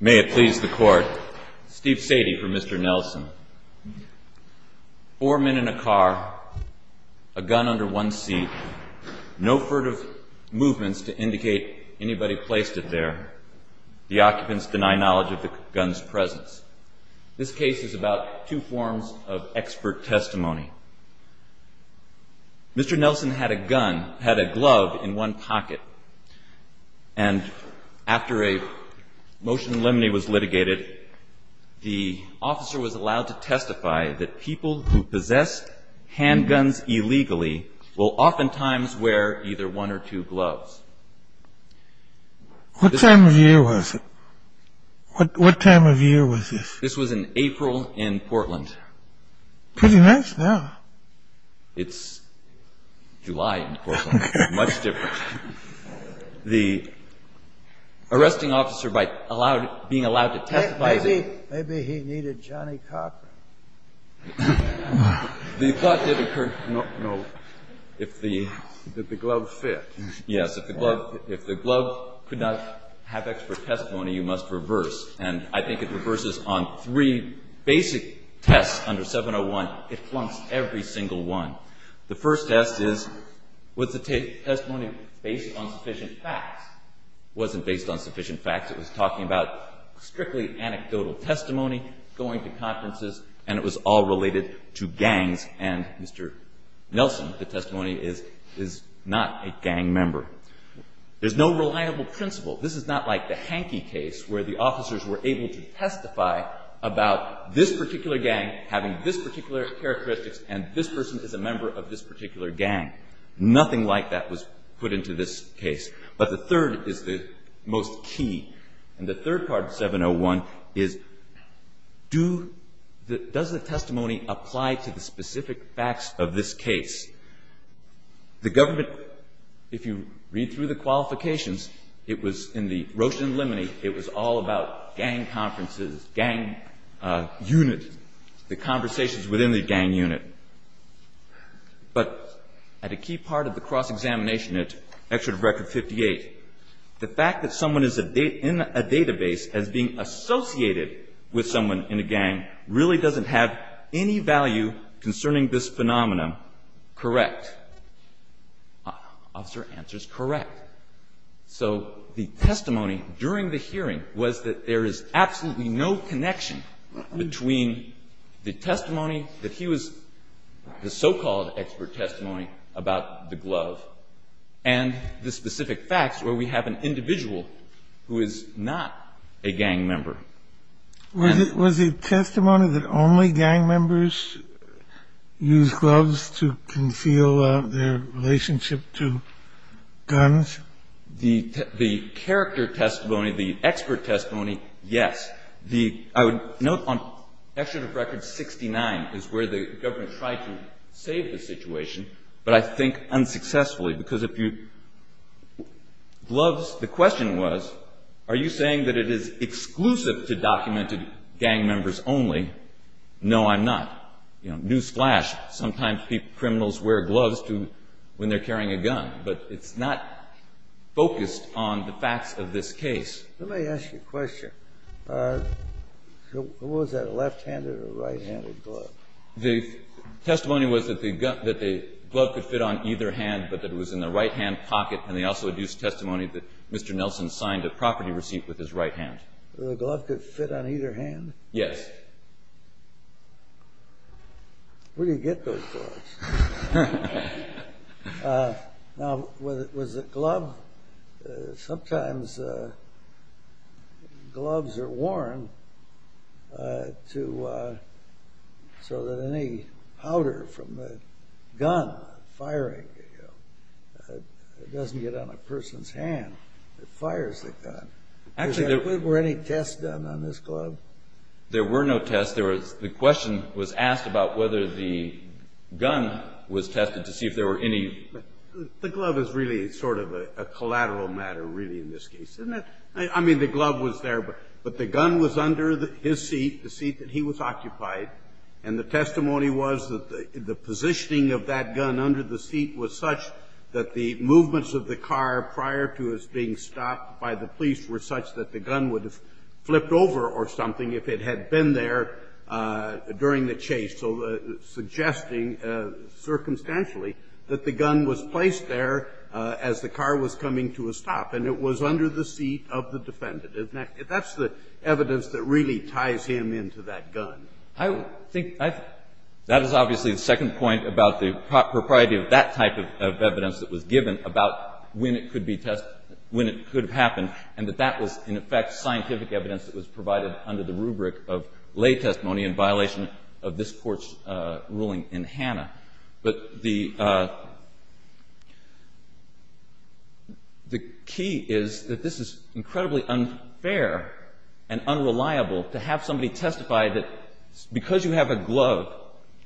May it please the court Steve Sadie for Mr. Nelson. Four men in a car a gun under one seat no furtive movements to indicate anybody placed it there. The occupants deny knowledge of the guns presence. This case is about two forms of expert testimony. Mr. Nelson had a gun, had a glove in one pocket, and after a motion in limine was litigated, the officer was allowed to testify that people who possess handguns illegally will oftentimes wear either one or two gloves. What time of year was it? What time of year was this? This was in April in Portland. Pretty nice now. It's July in Portland, much different. The arresting officer by being allowed to testify... Maybe he needed Johnny Cochran. No. Did the glove fit? Yes. If the glove could not have expert testimony, you must reverse. And I think it reverses on three basic tests under 701. It flunks every single one. The first test is was the testimony based on sufficient facts? It wasn't based on sufficient facts. It was talking about strictly anecdotal testimony, going to conferences, and it was all related to gangs, and Mr. Nelson, the testimony is, is not a gang member. There's no reliable principle. This is not like the Hankey case, where the officers were able to testify about this particular gang having this particular characteristics, and this person is a member of this particular gang. Nothing like that was put into this case. But the third is the most key. And the third part of 701 is, does the testimony apply to the specific facts of this case? The government, if you read through the qualifications, it was in the Roche and Lemony, it was all about gang conferences, gang unit, the conversations within the gang unit. But at a key part of the cross-examination, at Excerpt of Record 58, the fact that someone is in a database as being associated with someone in a gang really doesn't have any value concerning this phenomenon. Correct. Officer, answer is correct. So the testimony during the hearing was that there is absolutely no connection between the testimony that he was the so-called expert testimony about the glove and the specific facts where we have an individual who is not a gang member. Was the testimony that only gang members use gloves to conceal their relationship to guns? The character testimony, the expert testimony, yes. I would note on Excerpt of Record 69 is where the government tried to save the situation, but I think unsuccessfully. Because gloves, the question was, are you saying that it is exclusive to documented gang members only? No, I'm not. Newsflash, sometimes criminals wear gloves when they're carrying a gun, but it's not focused on the facts of this case. Let me ask you a question. Was that a left-handed or a right-handed glove? The testimony was that the glove could fit on either hand, but that it was in the right-hand pocket, and they also deduced testimony that Mr. Nelson signed a property receipt with his right hand. The glove could fit on either hand? Yes. Where do you get those gloves? Sometimes gloves are worn so that any powder from a gun firing doesn't get on a person's hand. It fires the gun. Were any tests done on this glove? There were no tests. The question was asked about whether the gun was tested to see if there were any. The glove is really sort of a collateral matter, really, in this case, isn't it? I mean, the glove was there, but the gun was under his seat, the seat that he was occupied. And the testimony was that the positioning of that gun under the seat was such that the movements of the car prior to his being stopped by the police were such that the gun would have flipped over or something if it had been there during the chase. So suggesting, circumstantially, that the gun was placed there as the car was coming to a stop, and it was under the seat of the defendant. That's the evidence that really ties him into that gun. I think that is obviously the second point about the propriety of that type of evidence that was given about when it could be tested, when it could have happened, and that that was, in effect, scientific evidence that was provided under the rubric of lay testimony in violation of this Court's ruling in Hannah. But the key is that this is incredibly unfair and unreliable to have somebody testify that because you have a glove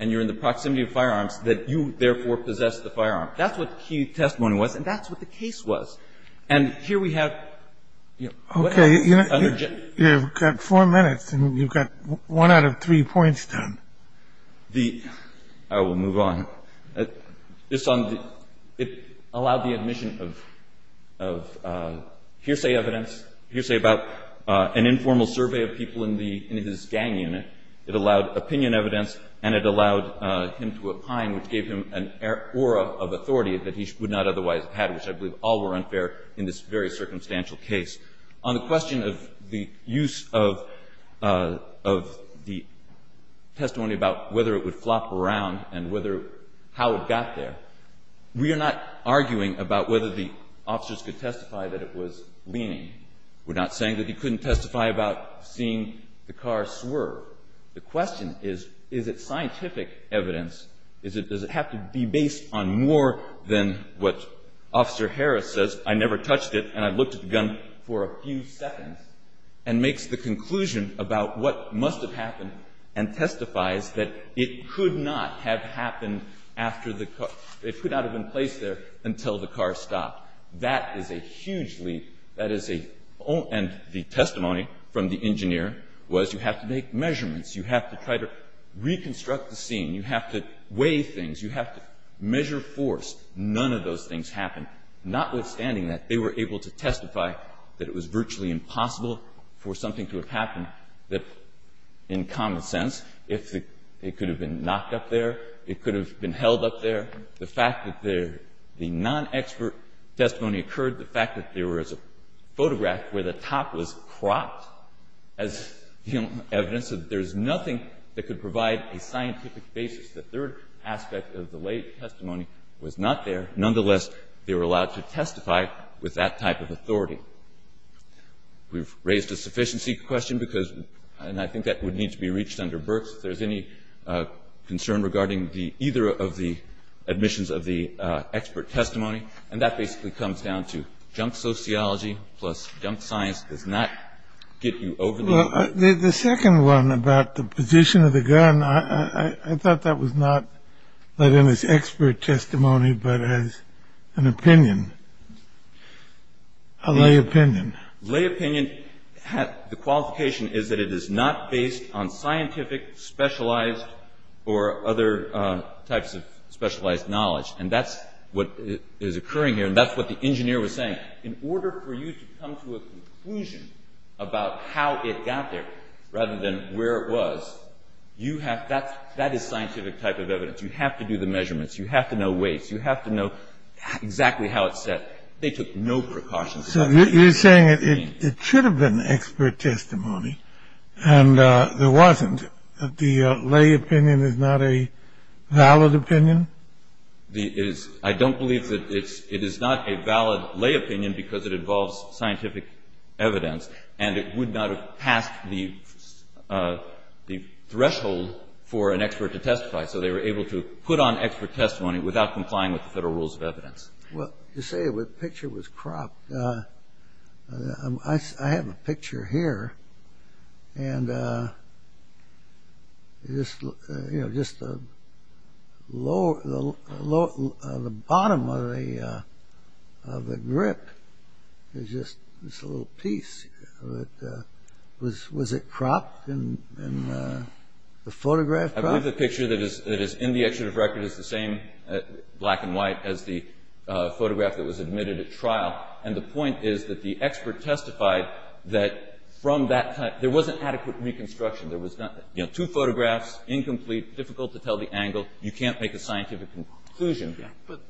and you're in the proximity of firearms, that you, therefore, possess the firearm. That's what the key testimony was, and that's what the case was. And here we have, you know, what else? Okay. You've got four minutes, and you've got one out of three points done. I will move on. It allowed the admission of hearsay evidence, hearsay about an informal survey of people in his gang unit. It allowed opinion evidence, and it allowed him to opine, which gave him an aura of authority that he would not otherwise have had, which I believe all were unfair in this very circumstantial case. On the question of the use of the testimony about whether it would flop around and how it got there, we are not arguing about whether the officers could testify that it was leaning. We're not saying that he couldn't testify about seeing the car swerve. The question is, is it scientific evidence? Does it have to be based on more than what Officer Harris says? I never touched it, and I looked at the gun for a few seconds, and makes the conclusion about what must have happened and testifies that it could not have happened after the car – it could not have been placed there until the car stopped. That is a huge leap. That is a – and the testimony from the engineer was you have to make measurements. You have to try to reconstruct the scene. You have to weigh things. You have to measure force. None of those things happened. Notwithstanding that, they were able to testify that it was virtually impossible for something to have happened that, in common sense, it could have been knocked up there. It could have been held up there. The fact that the non-expert testimony occurred, the fact that there was a photograph where the top was cropped as evidence that there's nothing that could provide a scientific basis, the third aspect of the lay testimony was not there. Nonetheless, they were allowed to testify with that type of authority. We've raised a sufficiency question because – and I think that would need to be reached under Berks if there's any concern regarding the – either of the admissions of the expert testimony. And that basically comes down to junk sociology plus junk science does not get you over the – The second one about the position of the gun, I thought that was not let in as expert testimony but as an opinion, a lay opinion. Lay opinion, the qualification is that it is not based on scientific, specialized, or other types of specialized knowledge. And that's what is occurring here, and that's what the engineer was saying. In order for you to come to a conclusion about how it got there rather than where it was, you have – that is scientific type of evidence. You have to do the measurements. You have to know weights. You have to know exactly how it's set. They took no precautions about that. You're saying it should have been expert testimony, and there wasn't. The lay opinion is not a valid opinion? I don't believe that it is not a valid lay opinion because it involves scientific evidence, and it would not have passed the threshold for an expert to testify. So they were able to put on expert testimony without complying with the Federal Rules of Evidence. Well, you say the picture was cropped. I have a picture here, and just the bottom of the grip is just this little piece. Was it cropped? The photograph cropped? I believe the picture that is in the excerpt of record is the same, black and white, as the photograph that was admitted at trial. And the point is that the expert testified that from that – there wasn't adequate reconstruction. There was two photographs, incomplete, difficult to tell the angle. You can't make a scientific conclusion.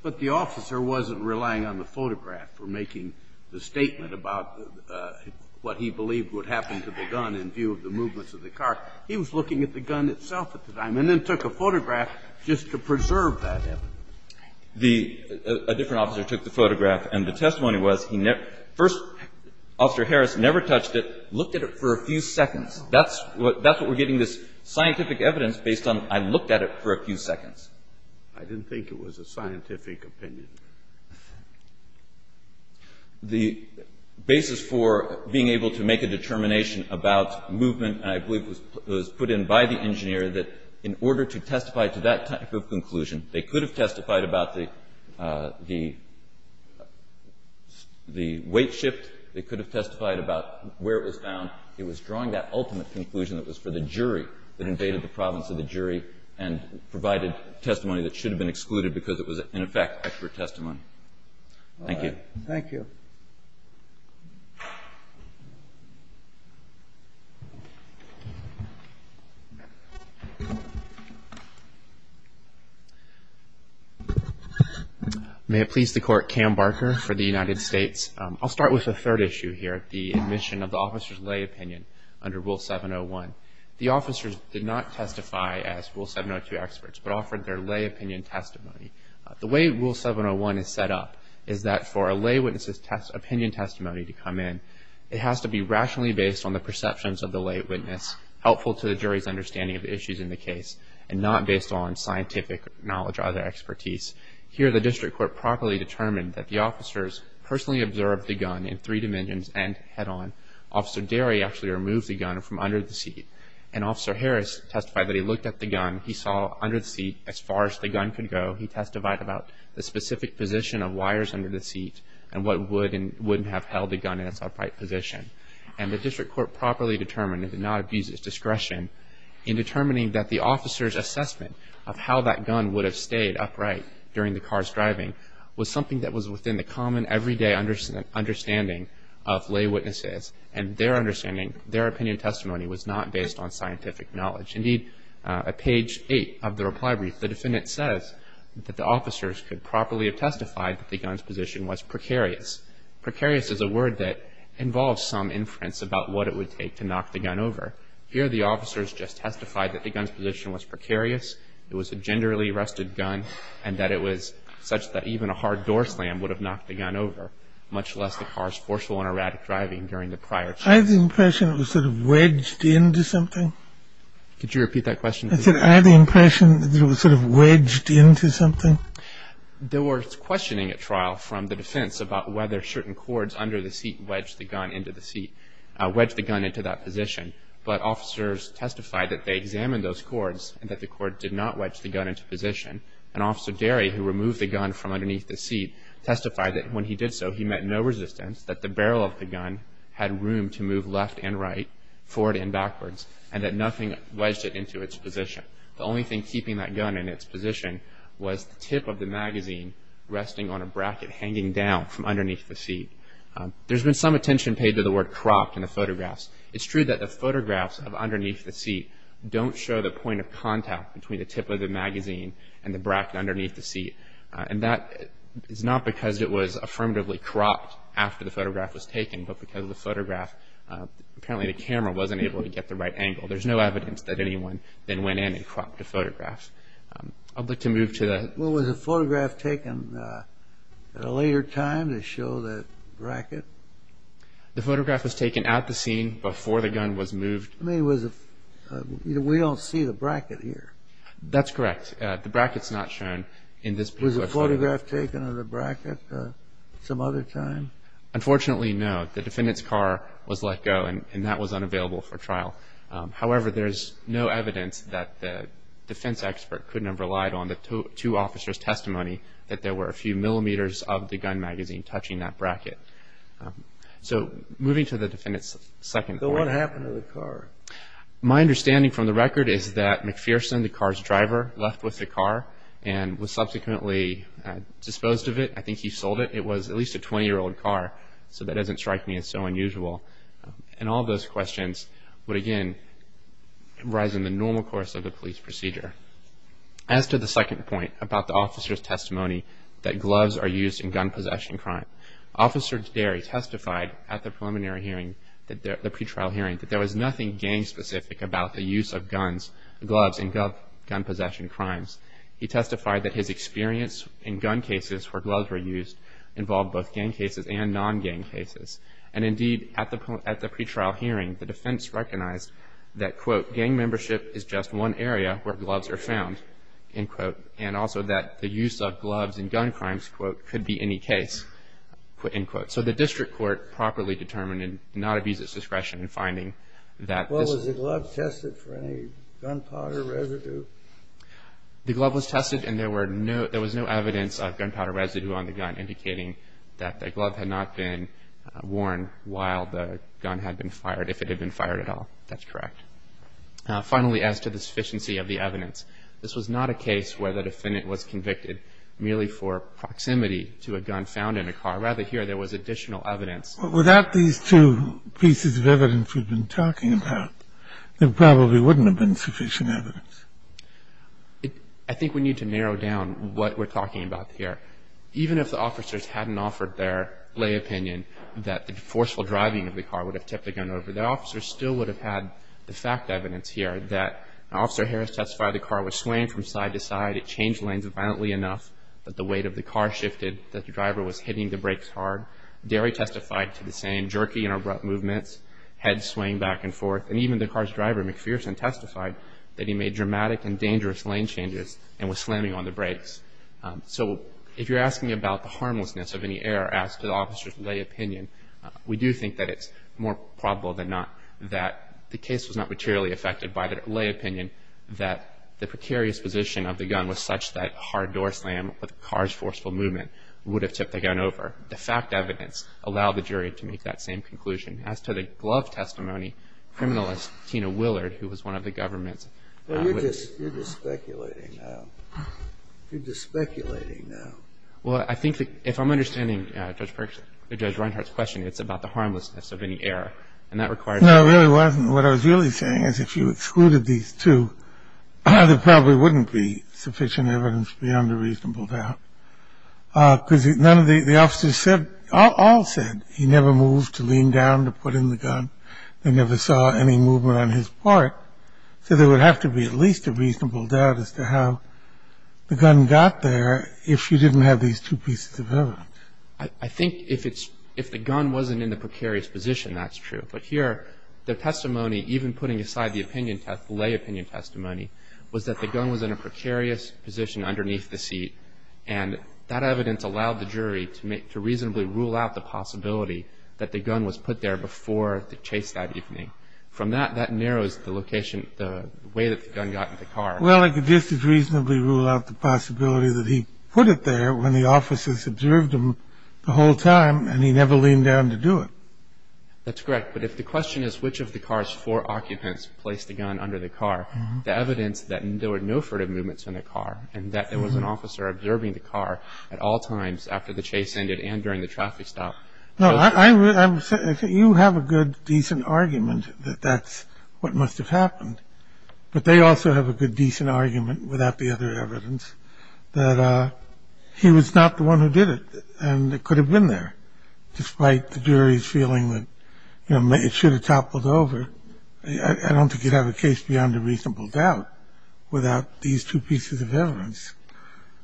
But the officer wasn't relying on the photograph for making the statement about what he believed would happen to the gun in view of the movements of the car. He was looking at the gun itself at the time and then took a photograph just to preserve that evidence. The – a different officer took the photograph, and the testimony was he never – first, Officer Harris never touched it, looked at it for a few seconds. That's what we're getting, this scientific evidence based on I looked at it for a few seconds. I didn't think it was a scientific opinion. The basis for being able to make a determination about movement, I believe, was put in by the engineer that in order to testify to that type of conclusion, they could have testified about the weight shift. They could have testified about where it was found. It was drawing that ultimate conclusion that was for the jury that invaded the province of the jury and provided testimony that should have been excluded because it was, in effect, expert testimony. Thank you. Thank you. May it please the Court, Cam Barker for the United States. I'll start with a third issue here, the admission of the officer's lay opinion under Rule 701. The officers did not testify as Rule 702 experts, but offered their lay opinion testimony. The way Rule 701 is set up is that for a lay witness's opinion testimony to come in, it has to be rationally based on the perceptions of the lay witness, helpful to the jury's understanding of the issues in the case, and not based on scientific knowledge or other expertise. Here, the district court properly determined that the officers personally observed the gun in three dimensions and head-on. Officer Derry actually removed the gun from under the seat, and Officer Harris testified that he looked at the gun. He saw under the seat as far as the gun could go. He testified about the specific position of wires under the seat and what would and wouldn't have held the gun in its upright position. And the district court properly determined, and did not abuse its discretion, in determining that the officer's assessment of how that gun would have stayed upright during the car's driving was something that was within the common, everyday understanding of lay witnesses, and their understanding, their opinion testimony was not based on scientific knowledge. Indeed, at page 8 of the reply brief, the defendant says that the officers could properly have testified that the gun's position was precarious. Precarious is a word that involves some inference about what it would take to knock the gun over. Here, the officers just testified that the gun's position was precarious, that it was a genderly-arrested gun, and that it was such that even a hard door slam would have knocked the gun over, much less the car's forceful and erratic driving during the prior trial. I have the impression it was sort of wedged into something. Could you repeat that question? I said I have the impression that it was sort of wedged into something. There was questioning at trial from the defense about whether certain cords under the seat wedged the gun into the seat, wedged the gun into that position. But officers testified that they examined those cords and that the cord did not wedge the gun into position. And Officer Derry, who removed the gun from underneath the seat, testified that when he did so, he met no resistance, that the barrel of the gun had room to move left and right, forward and backwards, and that nothing wedged it into its position. The only thing keeping that gun in its position was the tip of the magazine resting on a bracket hanging down from underneath the seat. There's been some attention paid to the word cropped in the photographs. It's true that the photographs of underneath the seat don't show the point of contact between the tip of the magazine and the bracket underneath the seat. And that is not because it was affirmatively cropped after the photograph was taken, but because the photograph, apparently the camera wasn't able to get the right angle. There's no evidence that anyone then went in and cropped the photographs. I'd like to move to the... Well, was the photograph taken at a later time to show that bracket? The photograph was taken at the scene before the gun was moved. We don't see the bracket here. That's correct. The bracket's not shown in this particular photograph. Was the photograph taken of the bracket some other time? Unfortunately, no. The defendant's car was let go, and that was unavailable for trial. However, there's no evidence that the defense expert couldn't have relied on the two officers' testimony that there were a few millimeters of the gun magazine touching that bracket. So moving to the defendant's second point. So what happened to the car? My understanding from the record is that McPherson, the car's driver, left with the car and was subsequently disposed of it. I think he sold it. It was at least a 20-year-old car, so that doesn't strike me as so unusual. And all those questions would, again, rise in the normal course of the police procedure. As to the second point about the officer's testimony, that gloves are used in gun possession crimes, Officer Derry testified at the preliminary hearing, the pretrial hearing, that there was nothing gang-specific about the use of gloves in gun possession crimes. He testified that his experience in gun cases where gloves were used involved both gang cases and non-gang cases. And indeed, at the pretrial hearing, the defense recognized that, quote, gang membership is just one area where gloves are found, end quote, and also that the use of gloves in gun crimes, quote, could be any case, end quote. So the district court properly determined and did not abuse its discretion in finding that. Well, was the glove tested for any gunpowder residue? The glove was tested, and there was no evidence of gunpowder residue on the gun, indicating that the glove had not been worn while the gun had been fired, if it had been fired at all. That's correct. Finally, as to the sufficiency of the evidence, this was not a case where the defendant was convicted merely for proximity to a gun found in a car. Rather, here there was additional evidence. But without these two pieces of evidence we've been talking about, there probably wouldn't have been sufficient evidence. I think we need to narrow down what we're talking about here. Even if the officers hadn't offered their lay opinion that the forceful driving of the car would have tipped the gun over, the officers still would have had the fact evidence here that Officer Harris testified that the car was swaying from side to side. It changed lanes violently enough that the weight of the car shifted, that the driver was hitting the brakes hard. Derry testified to the same jerky and abrupt movements, head swaying back and forth. And even the car's driver, McPherson, testified that he made dramatic and dangerous lane changes and was slamming on the brakes. So if you're asking about the harmlessness of any error, ask the officer's lay opinion. We do think that it's more probable than not that the case was not materially affected by the lay opinion that the precarious position of the gun was such that a hard door slam with a car's forceful movement would have tipped the gun over. The fact evidence allowed the jury to make that same conclusion. As to the glove testimony, criminalist Tina Willard, who was one of the government's witnesses ---- You're just speculating now. You're just speculating now. Well, I think that if I'm understanding Judge Reinhart's question, it's about the harmlessness of any error. And that requires ---- No, it really wasn't. What I was really saying is if you excluded these two, there probably wouldn't be sufficient evidence beyond a reasonable doubt. Because none of the officers said ---- all said he never moved to lean down to put in the gun. They never saw any movement on his part. So there would have to be at least a reasonable doubt as to how the gun got there if you didn't have these two pieces of evidence. I think if it's ---- if the gun wasn't in the precarious position, that's true. But here, the testimony, even putting aside the opinion test, the lay opinion testimony, was that the gun was in a precarious position underneath the seat. And that evidence allowed the jury to make ---- to reasonably rule out the possibility that the gun was put there before the chase that evening. From that, that narrows the location, the way that the gun got in the car. Well, I could just as reasonably rule out the possibility that he put it there when the officers observed him the whole time and he never leaned down to do it. That's correct. But if the question is which of the car's four occupants placed the gun under the car, the evidence that there were no furtive movements in the car and that there was an officer observing the car at all times after the chase ended and during the traffic stop ---- No, I would say you have a good, decent argument that that's what must have happened. But they also have a good, decent argument without the other evidence that he was not the one who did it and it could have been there, despite the jury's feeling that, you know, it should have toppled over. I don't think you'd have a case beyond a reasonable doubt without these two pieces of evidence.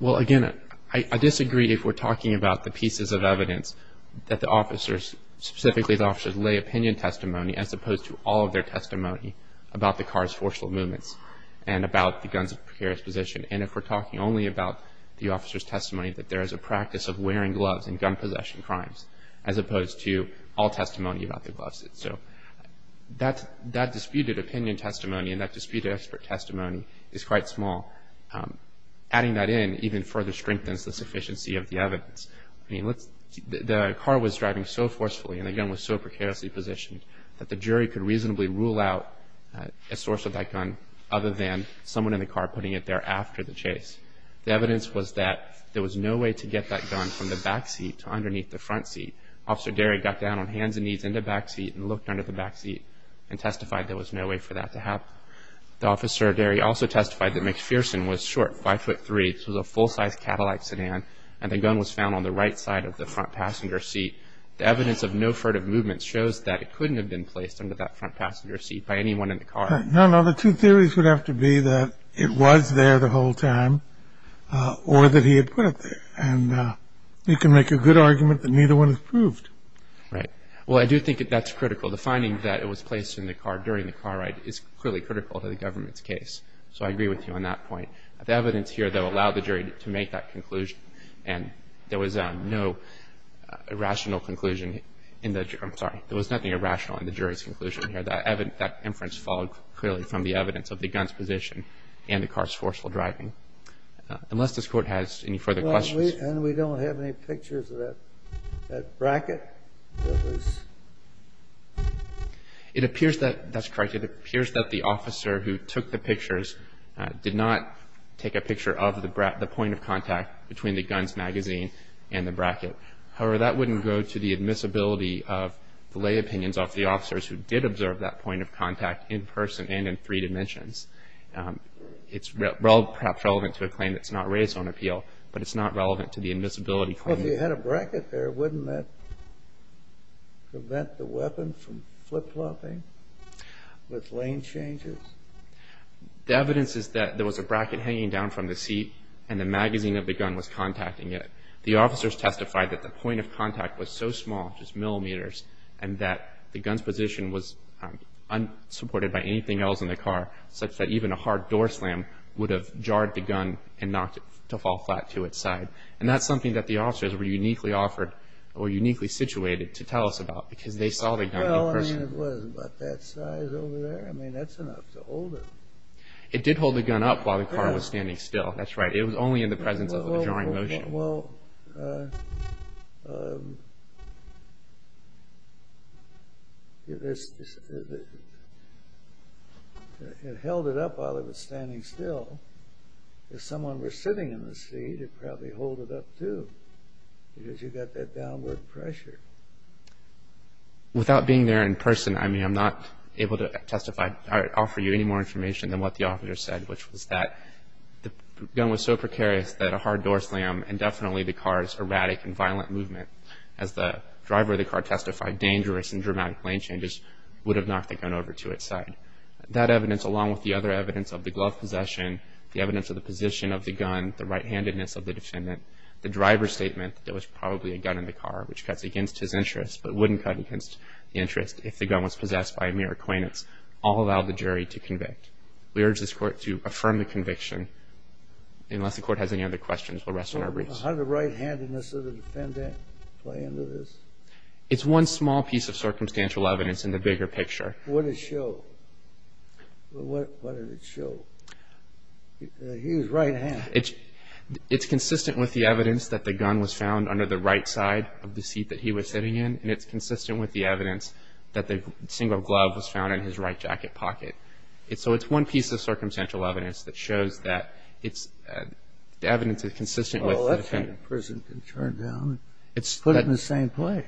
Well, again, I disagree if we're talking about the pieces of evidence that the officers, specifically the officers' lay opinion testimony, as opposed to all of their testimony about the car's forceful movements and about the gun's precarious position. And if we're talking only about the officers' testimony, that there is a practice of wearing gloves in gun possession crimes as opposed to all testimony about the gloves. So that disputed opinion testimony and that disputed expert testimony is quite small. Adding that in even further strengthens the sufficiency of the evidence. I mean, the car was driving so forcefully and the gun was so precariously positioned that the jury could reasonably rule out a source of that gun other than someone in the car putting it there after the chase. The evidence was that there was no way to get that gun from the back seat to underneath the front seat. Officer Derry got down on hands and knees in the back seat and looked under the back seat and testified there was no way for that to happen. The officer, Derry, also testified that McPherson was short, 5'3", was a full-size Cadillac sedan, and the gun was found on the right side of the front passenger seat. The evidence of no furtive movement shows that it couldn't have been placed under that front passenger seat by anyone in the car. No, no, the two theories would have to be that it was there the whole time or that he had put it there. And you can make a good argument that neither one is proved. Right. Well, I do think that that's critical. The finding that it was placed in the car during the car ride is clearly critical to the government's case. So I agree with you on that point. The evidence here, though, allowed the jury to make that conclusion and there was no irrational conclusion in the jury. I'm sorry, there was nothing irrational in the jury's conclusion here. That inference followed clearly from the evidence of the gun's position and the car's forceful driving. Unless this Court has any further questions. And we don't have any pictures of that bracket? That's correct. It appears that the officer who took the pictures did not take a picture of the point of contact between the gun's magazine and the bracket. However, that wouldn't go to the admissibility of the lay opinions of the officers who did observe that point of contact in person and in three dimensions. It's perhaps relevant to a claim that's not raised on appeal, but it's not relevant to the admissibility claim. Well, if you had a bracket there, wouldn't that prevent the weapon from flip-flopping with lane changes? The evidence is that there was a bracket hanging down from the seat and the magazine of the gun was contacting it. The officers testified that the point of contact was so small, just millimeters, and that the gun's position was unsupported by anything else in the car, such that even a hard door slam would have jarred the gun and knocked it to fall flat to its side. And that's something that the officers were uniquely offered or uniquely situated to tell us about because they saw the gun in person. Well, I mean, it was about that size over there. I mean, that's enough to hold it. It did hold the gun up while the car was standing still. That's right. It was only in the presence of a jarring motion. Well, it held it up while it was standing still. If someone were sitting in the seat, it'd probably hold it up too because you've got that downward pressure. Without being there in person, I mean, I'm not able to testify or offer you any more information than what the officer said, which was that the gun was so precarious that a hard door slam and definitely the car's erratic and violent movement, as the driver of the car testified, dangerous and dramatic lane changes, would have knocked the gun over to its side. That evidence, along with the other evidence of the glove possession, the evidence of the position of the gun, the right-handedness of the defendant, the driver's statement that there was probably a gun in the car, which cuts against his interest but wouldn't cut against the interest We urge this Court to affirm the conviction, unless the Court has any other questions. We'll rest on our briefs. How did the right-handedness of the defendant play into this? It's one small piece of circumstantial evidence in the bigger picture. What did it show? What did it show? He was right-handed. It's consistent with the evidence that the gun was found under the right side of the seat that he was sitting in, and it's consistent with the evidence that the single glove was found in his right jacket pocket. So it's one piece of circumstantial evidence that shows that it's evidence that's consistent with the defendant. Oh, a left-handed person can turn down and put it in the same place.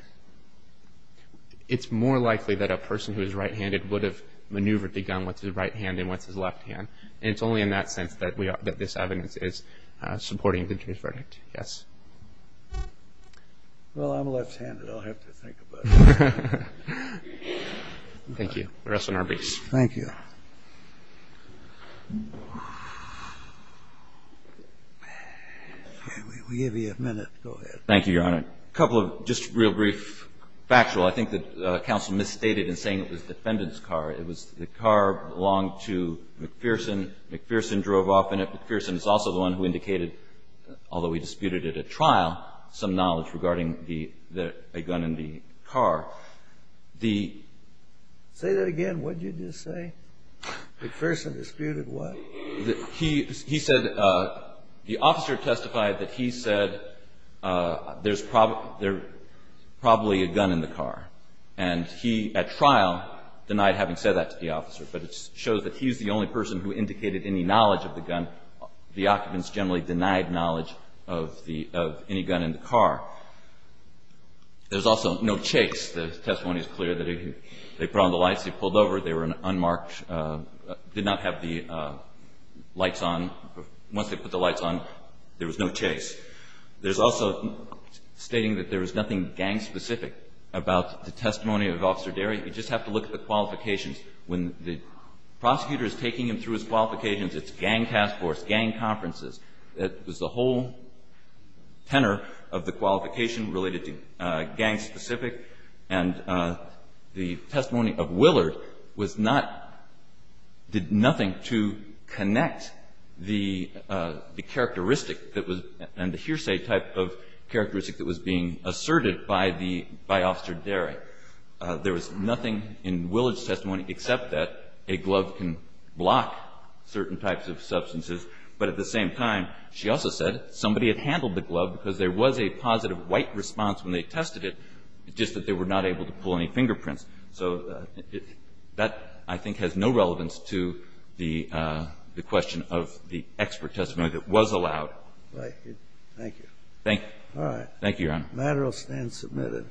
It's more likely that a person who is right-handed would have maneuvered the gun with his right hand than with his left hand, and it's only in that sense that this evidence is supporting the jury's verdict. Yes. Well, I'm left-handed. I'll have to think about it. Thank you. The rest of them are briefs. Thank you. We'll give you a minute. Go ahead. Thank you, Your Honor. A couple of just real brief factual. I think that counsel misstated in saying it was the defendant's car. It was the car that belonged to McPherson. McPherson drove off in it. McPherson is also the one who indicated, although we disputed at a trial, some knowledge regarding a gun in the car. Say that again. What did you just say? McPherson disputed what? He said the officer testified that he said there's probably a gun in the car. And he, at trial, denied having said that to the officer, but it shows that he's the only person who indicated any knowledge of the gun. The occupants generally denied knowledge of any gun in the car. There's also no chase. The testimony is clear that they put on the lights, they pulled over, they were unmarked, did not have the lights on. Once they put the lights on, there was no chase. There's also stating that there was nothing gang-specific about the testimony of Officer Derry. You just have to look at the qualifications. When the prosecutor is taking him through his qualifications, it's gang task force, gang conferences. It was the whole tenor of the qualification related to gang-specific. And the testimony of Willard did nothing to connect the characteristic and the hearsay type of characteristic that was being asserted by Officer Derry. There was nothing in Willard's testimony except that a glove can block certain types of substances. But at the same time, she also said somebody had handled the glove because there was a positive white response when they tested it, just that they were not able to pull any fingerprints. So that, I think, has no relevance to the question of the expert testimony that was allowed. Thank you. Thank you, Your Honor. The matter will stand submitted.